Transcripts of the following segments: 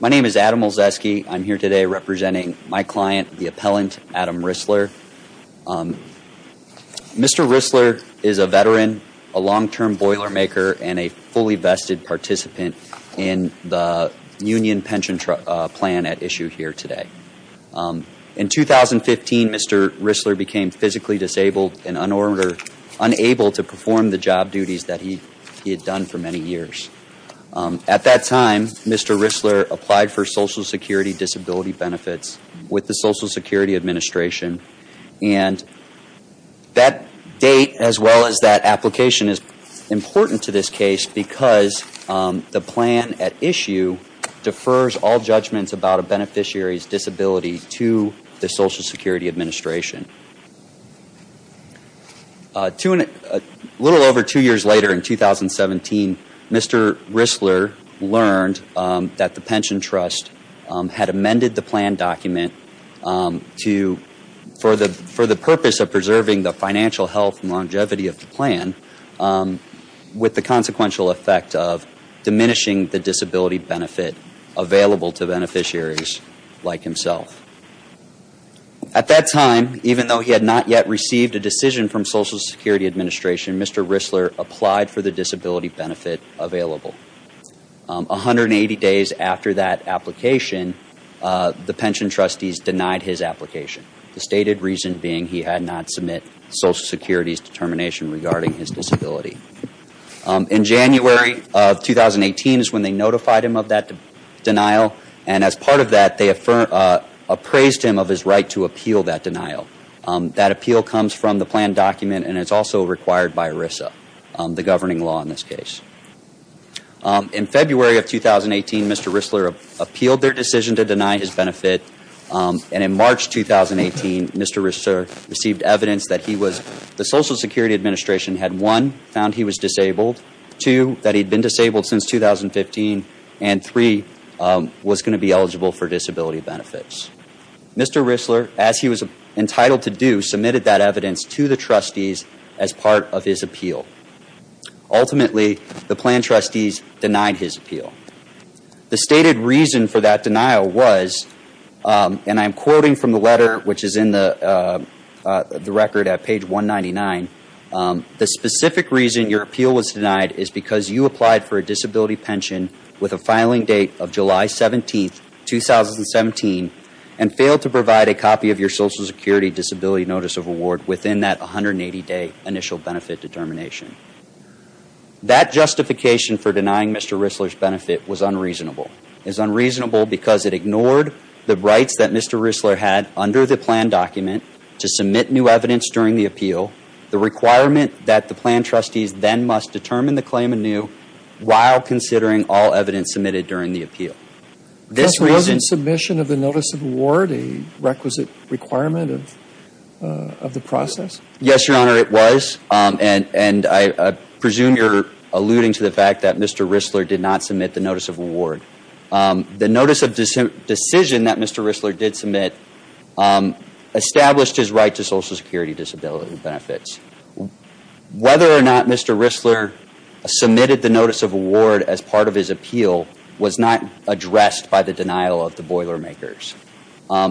My name is Adam Olszewski. I'm here today representing my client, the appellant, Adam Ruessler. Mr. Ruessler is a veteran, a long-term boilermaker, and a fully vested participant in the union pension plan at issue here today. In 2015, Mr. Ruessler became physically disabled and unable to perform the job duties that he had done for many years. At that time, Mr. Ruessler applied for Social Security Disability Benefits with the Social Security Administration. And that date, as well as that application, is important to this case because the plan at issue defers all judgments about a beneficiary's disability to the Social Security Administration. A little over two years later, in 2017, Mr. Ruessler learned that the pension trust had amended the plan document for the purpose of preserving the financial health and longevity of the plan, with the consequential effect of diminishing the disability benefit available to beneficiaries like himself. At that time, even though he had not yet received a decision from Social Security Administration, Mr. Ruessler applied for the disability benefit available. 180 days after that application, the pension trustees denied his application, the stated reason being he had not submitted Social Security's determination regarding his disability. In January of 2018 is when they notified him of that denial, and as part of that, they appraised him of his right to appeal that denial. That appeal comes from the plan document, and it's also required by ERISA, the governing law in this case. In February of 2018, Mr. Ruessler appealed their decision to deny his benefit. In March 2018, Mr. Ruessler received evidence that the Social Security Administration had, one, found he was disabled, two, that he'd been disabled since 2015, and three, was going to be eligible for disability benefits. Mr. Ruessler, as he was entitled to do, submitted that evidence to the trustees as part of his appeal. Ultimately, the plan trustees denied his appeal. The stated reason for that denial was, and I'm quoting from the letter which is in the record at page 199, the specific reason your appeal was denied is because you applied for a disability pension with a filing date of July 17, 2017, and failed to provide a copy of your Social Security Disability Notice of Award within that 180-day initial benefit determination. That justification for denying Mr. Ruessler's benefit was unreasonable. It was unreasonable because it ignored the rights that Mr. Ruessler had under the plan document to submit new evidence during the appeal, the requirement that the plan trustees then must determine the claim anew while considering all evidence submitted during the appeal. This reason... Just wasn't submission of the Notice of Award a requisite requirement of the process? Yes, Your Honor, it was, and I presume you're alluding to the fact that Mr. Ruessler did not submit the Notice of Award. The Notice of Decision that Mr. Ruessler did submit established his right to Social Security Disability benefits. Whether or not Mr. Ruessler submitted the Notice of Award as part of his appeal was not addressed by the denial of the Boilermakers.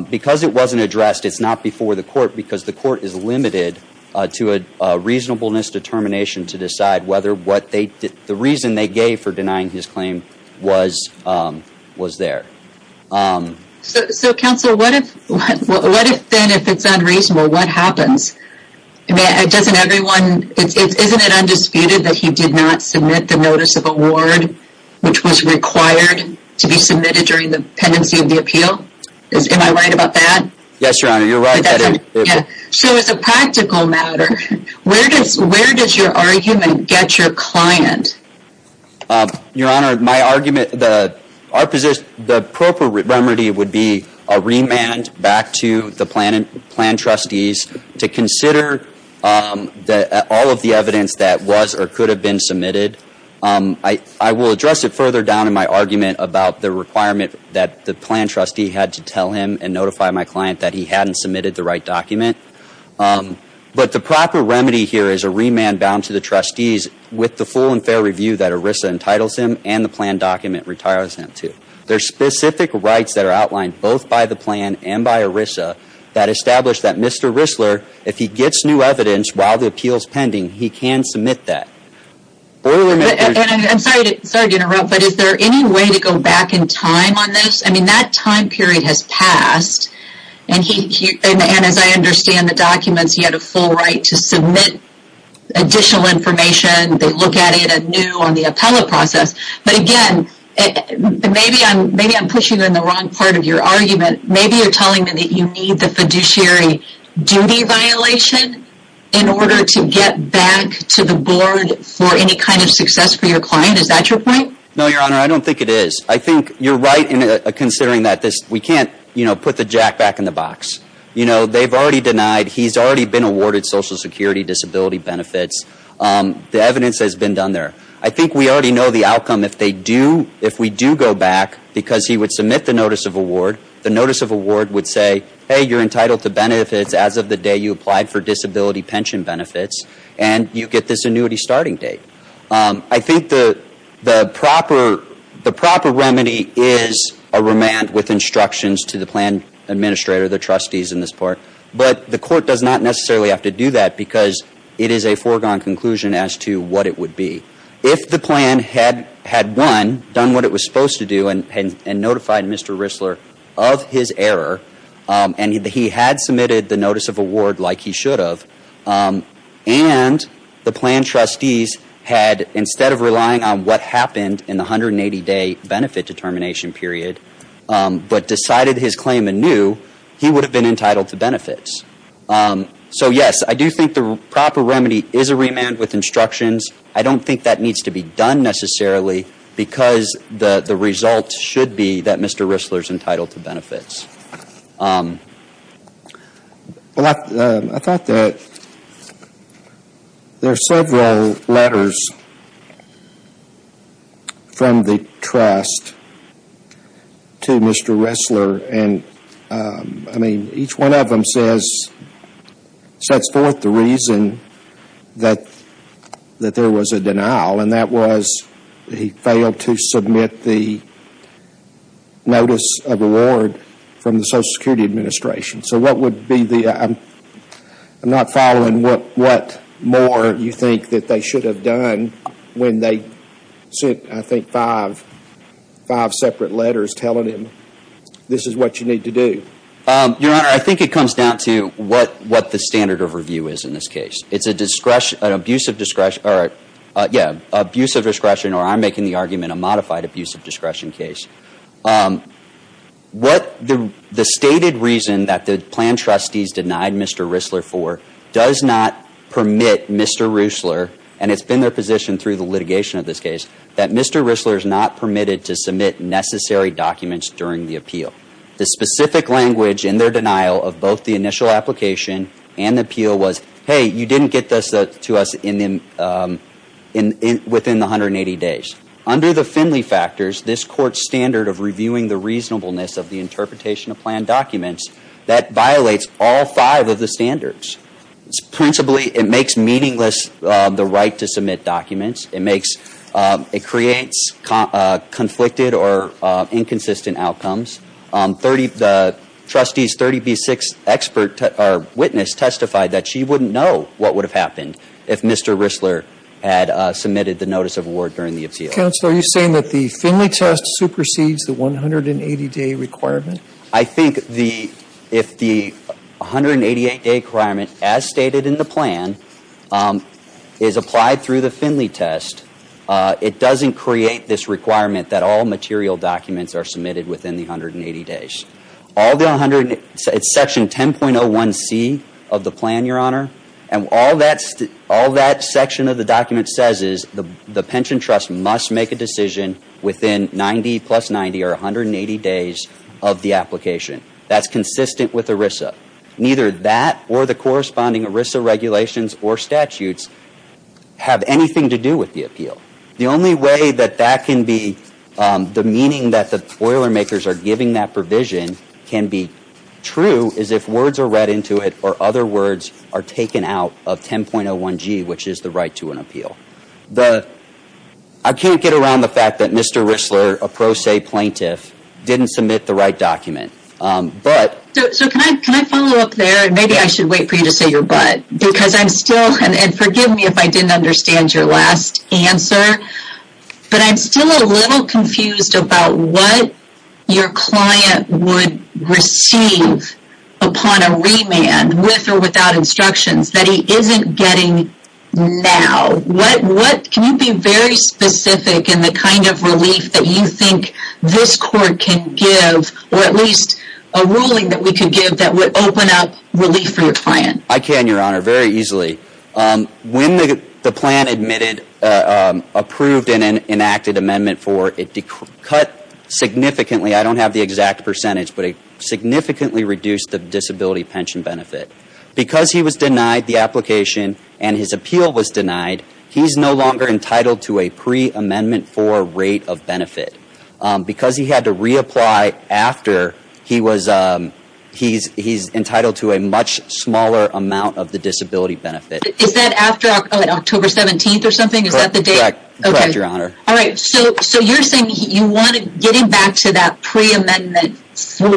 Because it wasn't addressed, it's not before the court because the court is limited to a reasonableness determination to decide whether the reason they gave for denying his claim was there. So, Counselor, what if it's unreasonable? What happens? Isn't it undisputed that he did not submit the Notice of Award which was required to be submitted during the pendency of the appeal? Am I right about that? Yes, Your Honor, you're right. So, as a practical matter, where does your argument get your client? Your Honor, my argument... The proper remedy would be a remand back to the plan trustees to consider all of the evidence that was or could have been submitted. I will address it further down in my argument about the requirement that the plan trustee had to tell him and notify my client that he hadn't submitted the right document. But the proper remedy here is a remand bound to the trustees with the full and fair review that ERISA entitles him and the plan document retires him to. There are specific rights that are outlined both by the plan and by ERISA that establish that Mr. Ruessler, if he gets new evidence while the appeal is pending, he can submit that. I'm sorry to interrupt, but is there any way to go back in time on this? I mean, that time period has passed, and as I understand the documents, he had a full right to submit additional information. They look at it anew on the appellate process. But again, maybe I'm pushing in the wrong part of your argument. Maybe you're telling me that you need the fiduciary duty violation in order to get back to the board for any kind of success for your client. Is that your point? No, Your Honor, I don't think it is. I think you're right in considering that we can't put the jack back in the box. They've already denied, he's already been awarded social security disability benefits. The evidence has been done there. I think we already know the outcome if they do, if we do go back, because he would submit the notice of award. The notice of award would say, hey, you're entitled to benefits as of the day you applied for disability pension benefits, and you get this annuity starting date. I think the proper remedy is a remand with instructions to the plan administrator, the trustees in this part. But the court does not necessarily have to do that because it is a foregone conclusion as to what it would be. If the plan had, one, done what it was supposed to do and notified Mr. Rissler of his error, and he had submitted the notice of award like he should have, and the plan trustees had, instead of relying on what happened in the 180-day benefit determination period, but decided his claim anew, he would have been entitled to benefits. So, yes, I do think the proper remedy is a remand with instructions. I don't think that needs to be done necessarily because the result should be that Mr. Rissler is entitled to benefits. Well, I thought that there are several letters from the trust to Mr. Rissler, and, I mean, each one of them says, sets forth the reason that there was a denial, and that was he failed to submit the notice of award from the Social Security Administration. So what would be the, I'm not following what more you think that they should have done when they sent, I think, five separate letters telling him this is what you need to do. Your Honor, I think it comes down to what the standard of review is in this case. It's an abuse of discretion, or I'm making the argument a modified abuse of discretion case. The stated reason that the plan trustees denied Mr. Rissler for does not permit Mr. Rissler, and it's been their position through the litigation of this case, that Mr. Rissler is not permitted to submit necessary documents during the appeal. The specific language in their denial of both the initial application and the appeal was, hey, you didn't get this to us within the 180 days. Under the Finley factors, this Court's standard of reviewing the reasonableness of the interpretation of plan documents, that violates all five of the standards. Principally, it makes meaningless the right to submit documents. It creates conflicted or inconsistent outcomes. The trustee's 30B6 witness testified that she wouldn't know what would have happened if Mr. Rissler had submitted the notice of award during the appeal. Counsel, are you saying that the Finley test supersedes the 180-day requirement? I think if the 188-day requirement, as stated in the plan, is applied through the Finley test, it doesn't create this requirement that all material documents are submitted within the 180 days. It's section 10.01C of the plan, Your Honor, and all that section of the document says is the pension trust must make a decision within 90 plus 90 or 180 days of the application. That's consistent with ERISA. Neither that or the corresponding ERISA regulations or statutes have anything to do with the appeal. The only way that the meaning that the Boilermakers are giving that provision can be true is if words are read into it or other words are taken out of 10.01G, which is the right to an appeal. I can't get around the fact that Mr. Rissler, a pro se plaintiff, didn't submit the right document. Can I follow up there? Maybe I should wait for you to say your but. Forgive me if I didn't understand your last answer, but I'm still a little confused about what your client would receive upon a remand with or without instructions that he isn't getting now. Can you be very specific in the kind of relief that you think this court can give or at least a ruling that we can give that would open up relief for your client? I can, Your Honor, very easily. When the plan admitted, approved, and enacted Amendment 4, it cut significantly. I don't have the exact percentage, but it significantly reduced the disability pension benefit. Because he was denied the application and his appeal was denied, he's no longer entitled to a pre-Amendment 4 rate of benefit. Because he had to reapply after, he's entitled to a much smaller amount of the disability benefit. Is that after October 17th or something? Is that the date? Correct, Your Honor. Alright, so you're saying you want to get him back to that pre-Amendment 4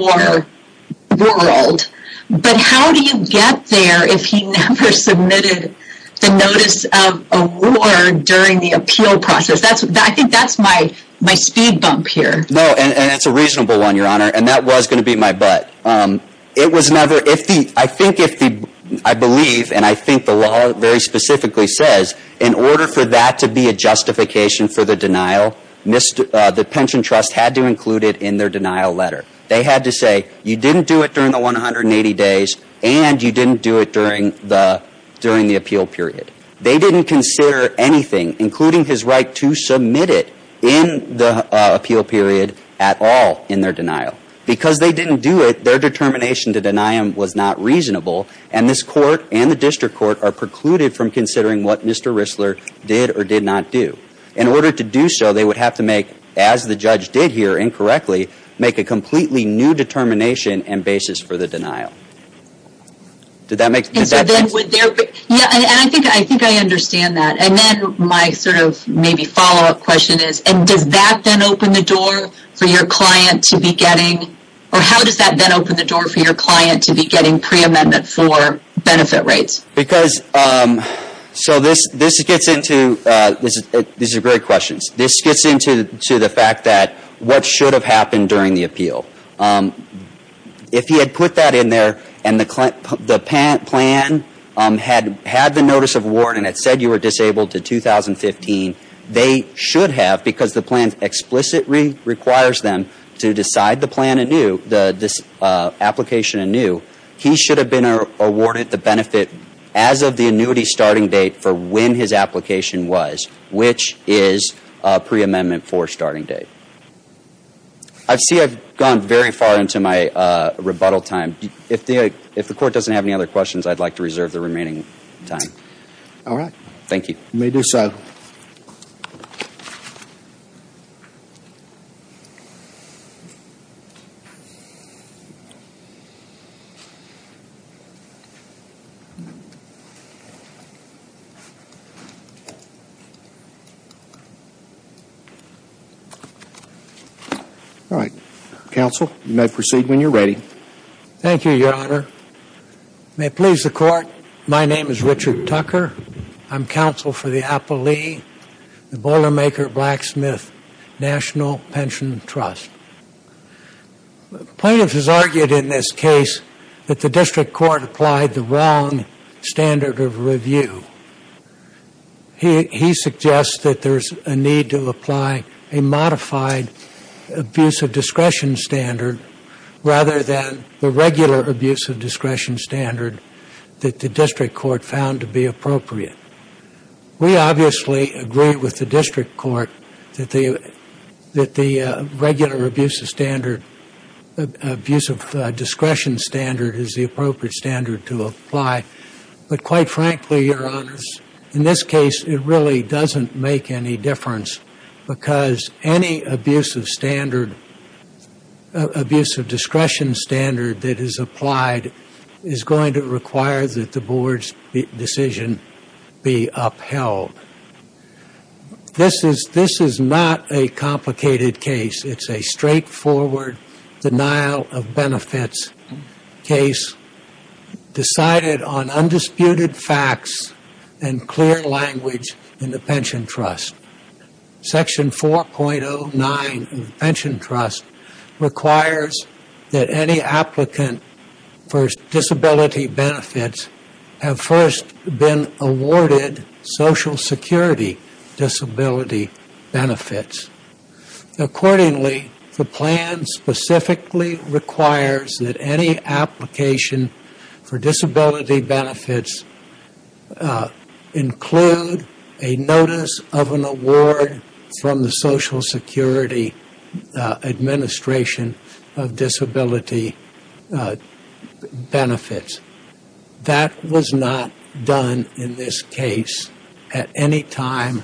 world, but how do you get there if he never submitted the notice of award during the appeal process? I think that's my speed bump here. No, and it's a reasonable one, Your Honor, and that was going to beat my butt. I believe, and I think the law very specifically says, in order for that to be a justification for the denial, the pension trust had to include it in their denial letter. They had to say, you didn't do it during the 180 days and you didn't do it during the appeal period. They didn't consider anything, including his right to submit it in the appeal period at all in their denial. Because they didn't do it, their determination to deny him was not reasonable, and this Court and the District Court are precluded from considering what Mr. Rissler did or did not do. In order to do so, they would have to make, as the judge did here incorrectly, make a completely new determination and basis for the denial. Did that make sense? Yeah, and I think I understand that, and then my sort of maybe follow-up question is, and does that then open the door for your client to be getting, or how does that then open the door for your client to be getting pre-Amendment 4 benefit rates? Because, so this gets into, these are great questions. This gets into the fact that what should have happened during the appeal. If he had put that in there and the plan had the notice of award and it said you were disabled to 2015, they should have, because the plan explicitly requires them to decide the plan anew, the application anew. He should have been awarded the benefit as of the annuity starting date for when his application was, which is pre-Amendment 4 starting date. I see I've gone very far into my rebuttal time. If the Court doesn't have any other questions, I'd like to reserve the remaining time. All right. Thank you. You may do so. Thank you. All right. Counsel, you may proceed when you're ready. Thank you, Your Honor. May it please the Court, my name is Richard Tucker. I'm counsel for the Appellee, the Boilermaker Blacksmith National Pension Trust. Plaintiff has argued in this case that the District Court applied the wrong standard of review. He suggests that there's a need to apply a modified abuse of discretion standard rather than the regular abuse of discretion standard that the District Court found to be appropriate. We obviously agree with the District Court that the regular abuse of standard, abuse of discretion standard is the appropriate standard to apply. But quite frankly, Your Honors, in this case, it really doesn't make any difference because any abuse of standard, abuse of discretion standard that is applied is going to require that the Board's decision be upheld. This is not a complicated case. It's a straightforward denial of benefits case decided on undisputed facts and clear language in the Pension Trust. Section 4.09 of the Pension Trust requires that any applicant for disability benefits have first been awarded Social Security disability benefits. Accordingly, the plan specifically requires that any application for disability benefits include a notice of an award from the Social Security Administration of disability benefits. That was not done in this case at any time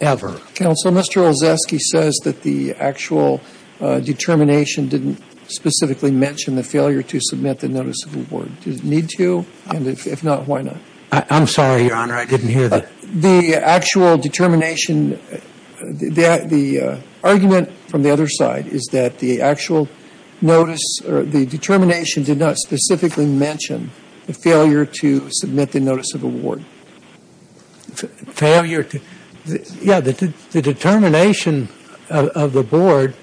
ever. Counsel, Mr. Olszewski says that the actual determination didn't specifically mention the failure to submit the notice of award. Does it need to? And if not, why not? I'm sorry, Your Honor, I didn't hear that. The actual determination, the argument from the other side is that the actual notice or the determination did not specifically mention the failure to submit the notice of award. Failure to, yeah, the determination of the Board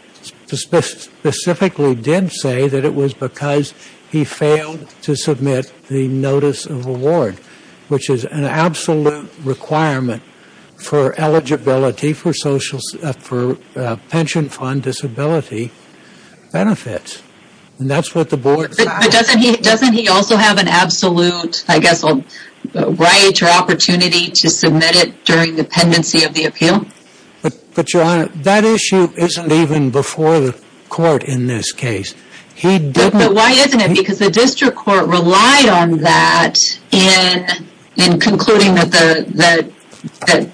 specifically did say that it was because he failed to submit the notice of award, which is an absolute requirement for eligibility for social, for pension fund disability benefits. And that's what the Board. But doesn't he also have an absolute, I guess, right or opportunity to submit it during dependency of the appeal? But Your Honor, that issue isn't even before the court in this case. He didn't. But why isn't it? Because the district court relied on that in concluding that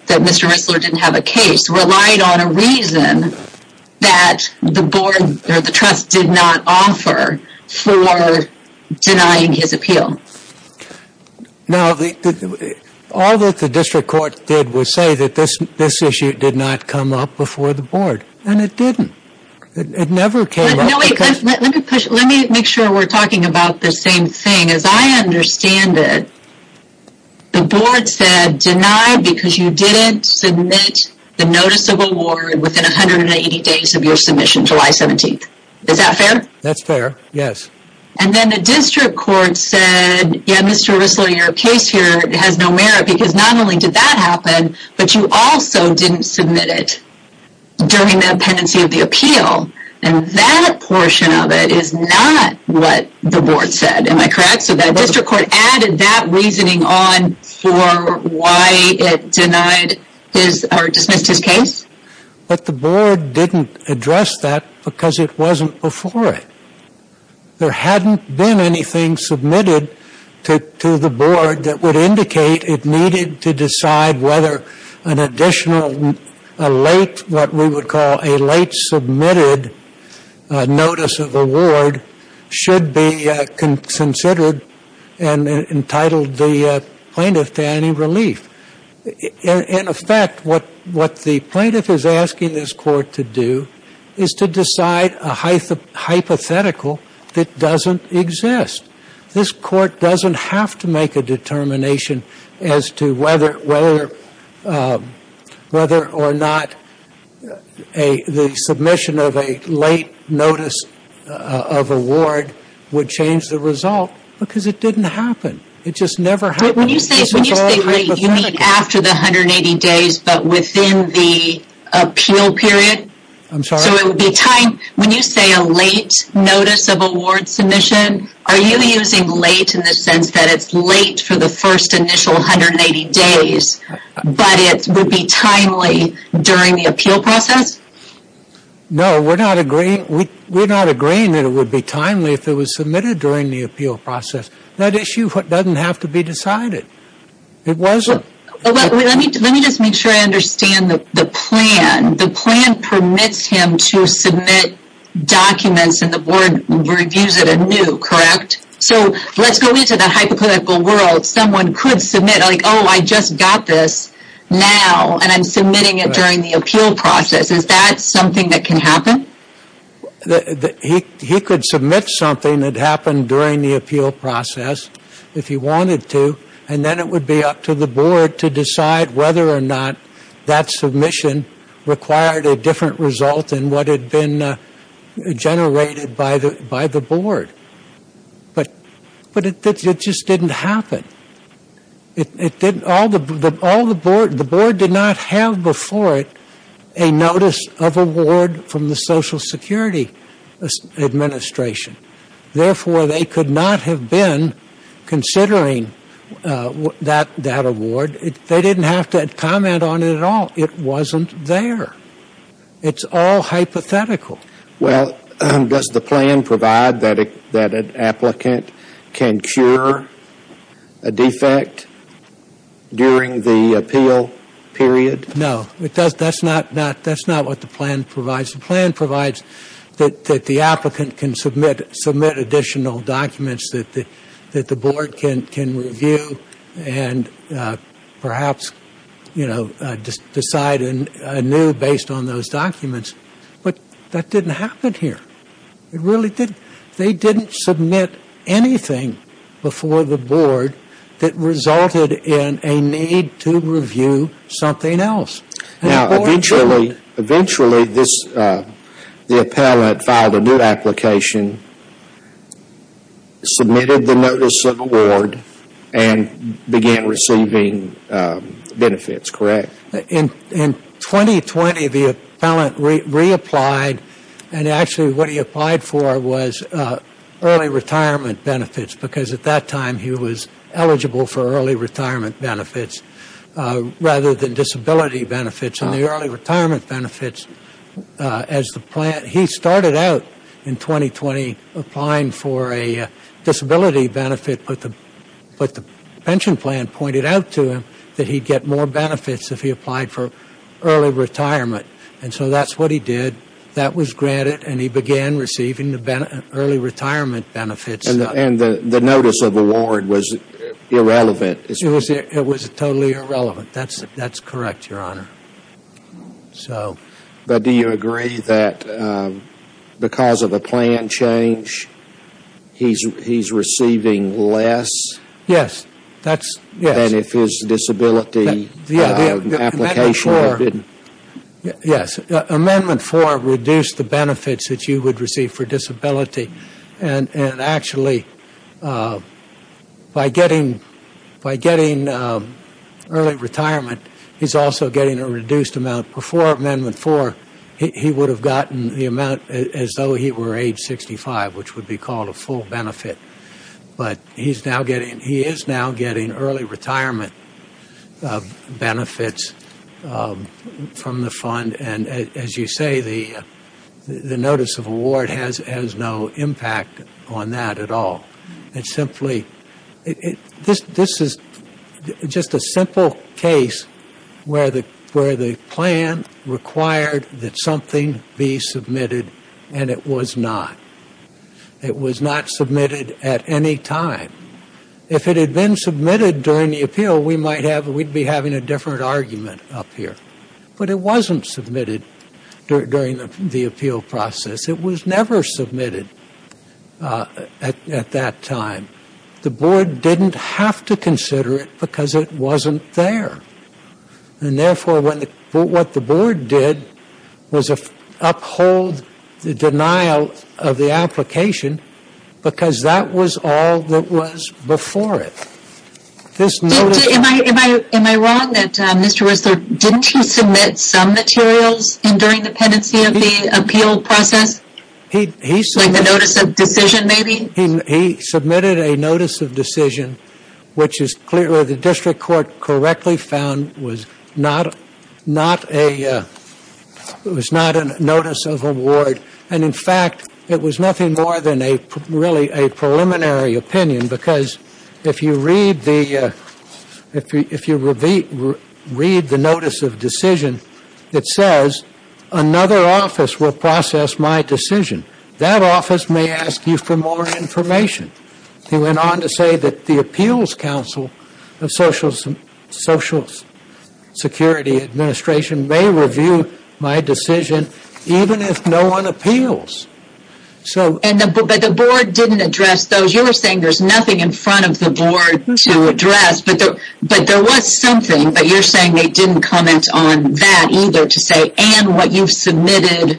Mr. Risler didn't have a case, relied on a reason that the Board or the trust did not offer for denying his appeal. Now, all that the district court did was say that this issue did not come up before the Board. And it didn't. It never came up. Let me make sure we're talking about the same thing. As I understand it, the Board said deny because you didn't submit the notice of award within 180 days of your submission, July 17th. Is that fair? That's fair, yes. And then the district court said, yeah, Mr. Risler, your case here has no merit because not only did that happen, but you also didn't submit it during the dependency of the appeal. And that portion of it is not what the Board said. Am I correct? So that district court added that reasoning on for why it denied or dismissed his case? But the Board didn't address that because it wasn't before it. There hadn't been anything submitted to the Board that would indicate it needed to decide whether an additional late, what we would call a late submitted notice of award should be considered and entitled the plaintiff to any relief. In effect, what the plaintiff is asking this court to do is to decide a hypothetical that doesn't exist. This court doesn't have to make a determination as to whether or not the submission of a late notice of award would change the result because it didn't happen. It just never happened. When you say late, you mean after the 180 days but within the appeal period? I'm sorry? So it would be time, when you say a late notice of award submission, are you using late in the sense that it's late for the first initial 180 days, but it would be timely during the appeal process? No, we're not agreeing that it would be timely if it was submitted during the appeal process. That issue doesn't have to be decided. It wasn't. Let me just make sure I understand the plan. The plan permits him to submit documents and the Board reviews it anew, correct? So let's go into the hypothetical world. Someone could submit, like, oh, I just got this now and I'm submitting it during the appeal process. Is that something that can happen? He could submit something that happened during the appeal process if he wanted to, and then it would be up to the Board to decide whether or not that submission required a different result than what had been generated by the Board. But it just didn't happen. The Board did not have before it a notice of award from the Social Security Administration. Therefore, they could not have been considering that award. They didn't have to comment on it at all. It wasn't there. It's all hypothetical. Well, does the plan provide that an applicant can cure a defect during the appeal period? No. That's not what the plan provides. The plan provides that the applicant can submit additional documents that the Board can review and perhaps decide anew based on those documents. But that didn't happen here. It really didn't. They didn't submit anything before the Board that resulted in a need to review something else. Now, eventually, the appellant filed a new application, submitted the notice of award, and began receiving benefits, correct? In 2020, the appellant reapplied, and actually what he applied for was early retirement benefits, because at that time he was eligible for early retirement benefits rather than disability benefits. And the early retirement benefits, he started out in 2020 applying for a disability benefit, but the pension plan pointed out to him that he'd get more benefits if he applied for early retirement. And so that's what he did. That was granted, and he began receiving the early retirement benefits. And the notice of award was irrelevant? It was totally irrelevant. That's correct, Your Honor. But do you agree that because of a plan change, he's receiving less than if his disability application had been? Yes. Amendment 4 reduced the benefits that you would receive for disability. And actually, by getting early retirement, he's also getting a reduced amount. Before Amendment 4, he would have gotten the amount as though he were age 65, which would be called a full benefit. But he is now getting early retirement benefits from the fund. And as you say, the notice of award has no impact on that at all. It's simply, this is just a simple case where the plan required that something be submitted, and it was not. It was not submitted at any time. If it had been submitted during the appeal, we might have, we'd be having a different argument up here. But it wasn't submitted during the appeal process. It was never submitted at that time. The board didn't have to consider it because it wasn't there. And therefore, what the board did was uphold the denial of the application because that was all that was before it. Am I wrong that Mr. Whistler, didn't he submit some materials during the pendency of the appeal process? Like the notice of decision, maybe? He submitted a notice of decision, which is clear the district court correctly found was not a notice of award. And in fact, it was nothing more than really a preliminary opinion because if you read the notice of decision, it says another office will process my decision. That office may ask you for more information. He went on to say that the appeals council of Social Security Administration may review my decision even if no one appeals. But the board didn't address those. You were saying there's nothing in front of the board to address. But there was something, but you're saying they didn't comment on that either to say, and what you've submitted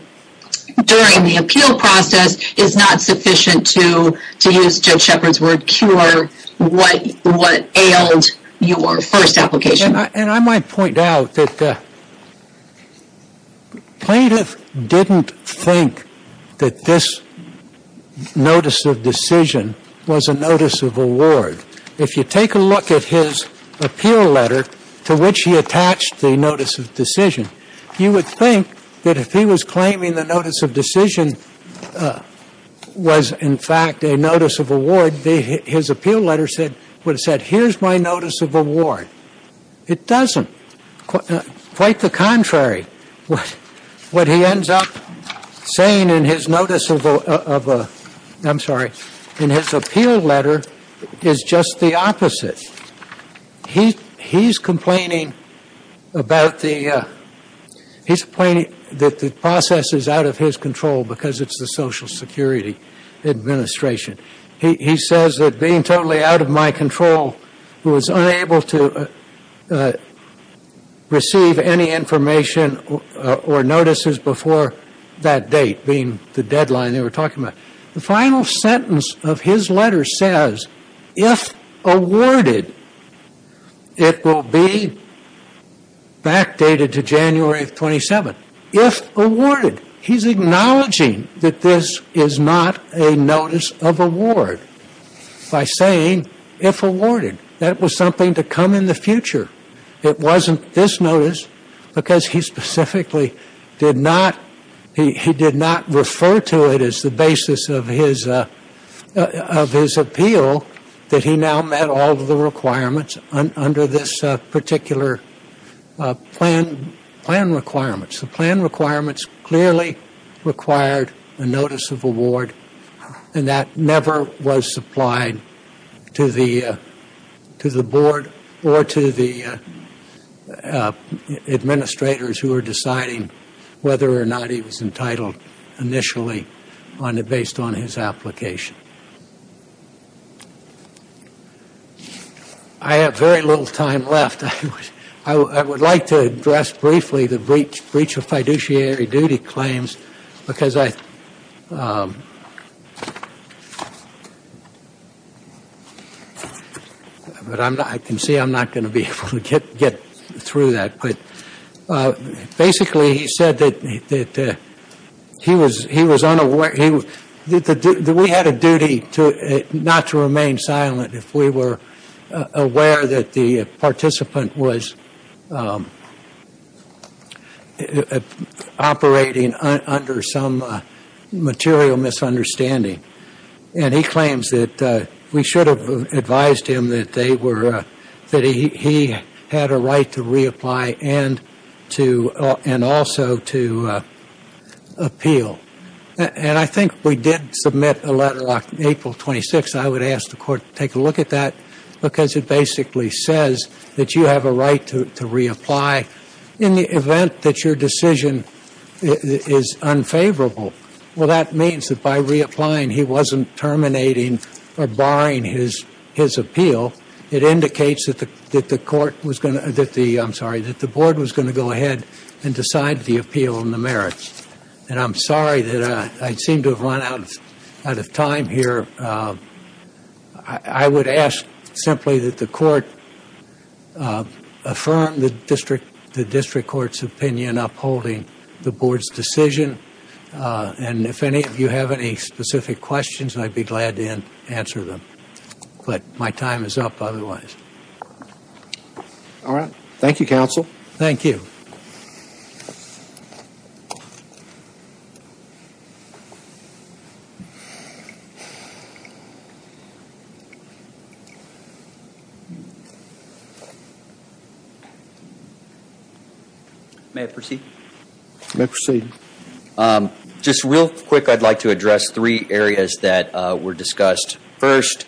during the appeal process is not sufficient to, to use Judge Shepard's word, cure what ailed your first application. And I might point out that plaintiff didn't think that this notice of decision was a notice of award. If you take a look at his appeal letter to which he attached the notice of decision, you would think that if he was claiming the notice of decision was in fact a notice of award, his appeal letter would have said, here's my notice of award. It doesn't. Quite the contrary. What he ends up saying in his notice of, I'm sorry, in his appeal letter is just the opposite. He's complaining about the, he's complaining that the process is out of his control because it's the Social Security Administration. He says that being totally out of my control, who was unable to receive any information or notices before that date, being the deadline they were talking about. The final sentence of his letter says, if awarded, it will be backdated to January 27th. If awarded, he's acknowledging that this is not a notice of award by saying if awarded. That was something to come in the future. It wasn't this notice because he specifically did not, he did not refer to it as the basis of his appeal that he now met all of the requirements under this particular plan requirements. The plan requirements clearly required a notice of award and that never was supplied to the board or to the administrators who were deciding whether or not he was entitled initially based on his application. I have very little time left. I would like to address briefly the breach of fiduciary duty claims because I, but I can see I'm not going to be able to get through that. But basically he said that he was unaware, that we had a duty not to remain silent if we were aware that the participant was operating under some material misunderstanding. And he claims that we should have advised him that they were, that he had a right to reapply and also to appeal. And I think we did submit a letter on April 26th. I would ask the court to take a look at that because it basically says that you have a right to reapply in the event that your decision is unfavorable. Well, that means that by reapplying he wasn't terminating or barring his appeal. It indicates that the court was going to, that the, I'm sorry, that the board was going to go ahead and decide the appeal and the merits. And I'm sorry that I seem to have run out of time here. I would ask simply that the court affirm the district court's opinion upholding the board's decision. And if any of you have any specific questions, I'd be glad to answer them. But my time is up otherwise. All right. Thank you, counsel. Thank you. May I proceed? You may proceed. Just real quick, I'd like to address three areas that were discussed. First,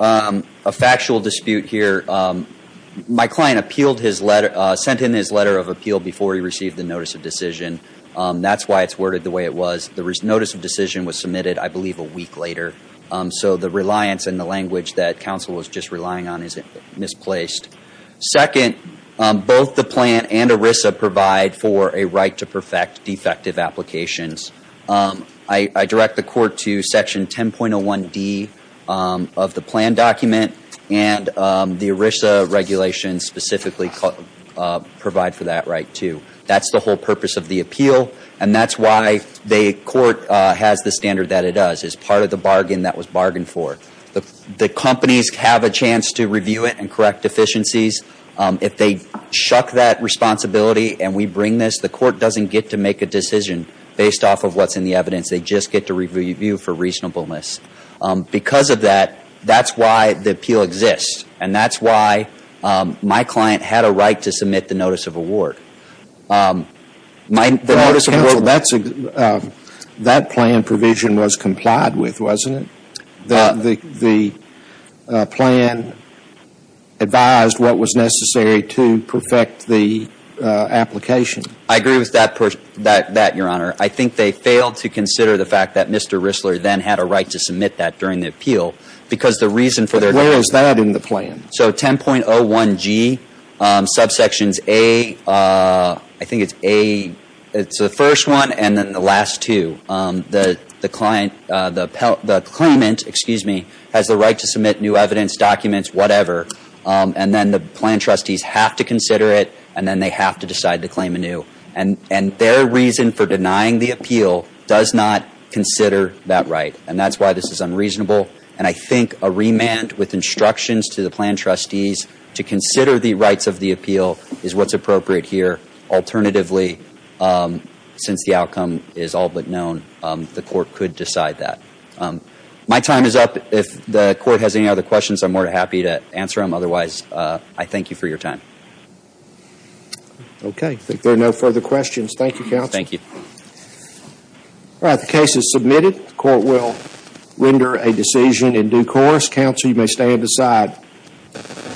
a factual dispute here. My client appealed his letter, sent in his letter of appeal before he received the notice of decision. That's why it's worded the way it was. The notice of decision was submitted, I believe, a week later. So the reliance and the language that counsel was just relying on is misplaced. Second, both the plan and ERISA provide for a right to perfect defective applications. I direct the court to Section 10.01D of the plan document, and the ERISA regulations specifically provide for that right, too. That's the whole purpose of the appeal, and that's why the court has the standard that it does. It's part of the bargain that was bargained for. The companies have a chance to review it and correct deficiencies. If they shuck that responsibility and we bring this, the court doesn't get to make a decision based off of what's in the evidence. They just get to review for reasonableness. Because of that, that's why the appeal exists, and that's why my client had a right to submit the notice of award. That plan provision was complied with, wasn't it? The plan advised what was necessary to perfect the application. I agree with that, Your Honor. I think they failed to consider the fact that Mr. Rissler then had a right to submit that during the appeal because the reason for their- But where is that in the plan? So 10.01G, subsections A, I think it's A, it's the first one and then the last two. The claimant has the right to submit new evidence, documents, whatever, and then the plan trustees have to consider it and then they have to decide to claim anew. And their reason for denying the appeal does not consider that right, and that's why this is unreasonable. And I think a remand with instructions to the plan trustees to consider the rights of the appeal is what's appropriate here. Alternatively, since the outcome is all but known, the court could decide that. My time is up. If the court has any other questions, I'm more than happy to answer them. Otherwise, I thank you for your time. Okay. I think there are no further questions. Thank you, counsel. Thank you. All right, the case is submitted. The court will render a decision in due course. Counsel, you may stand aside.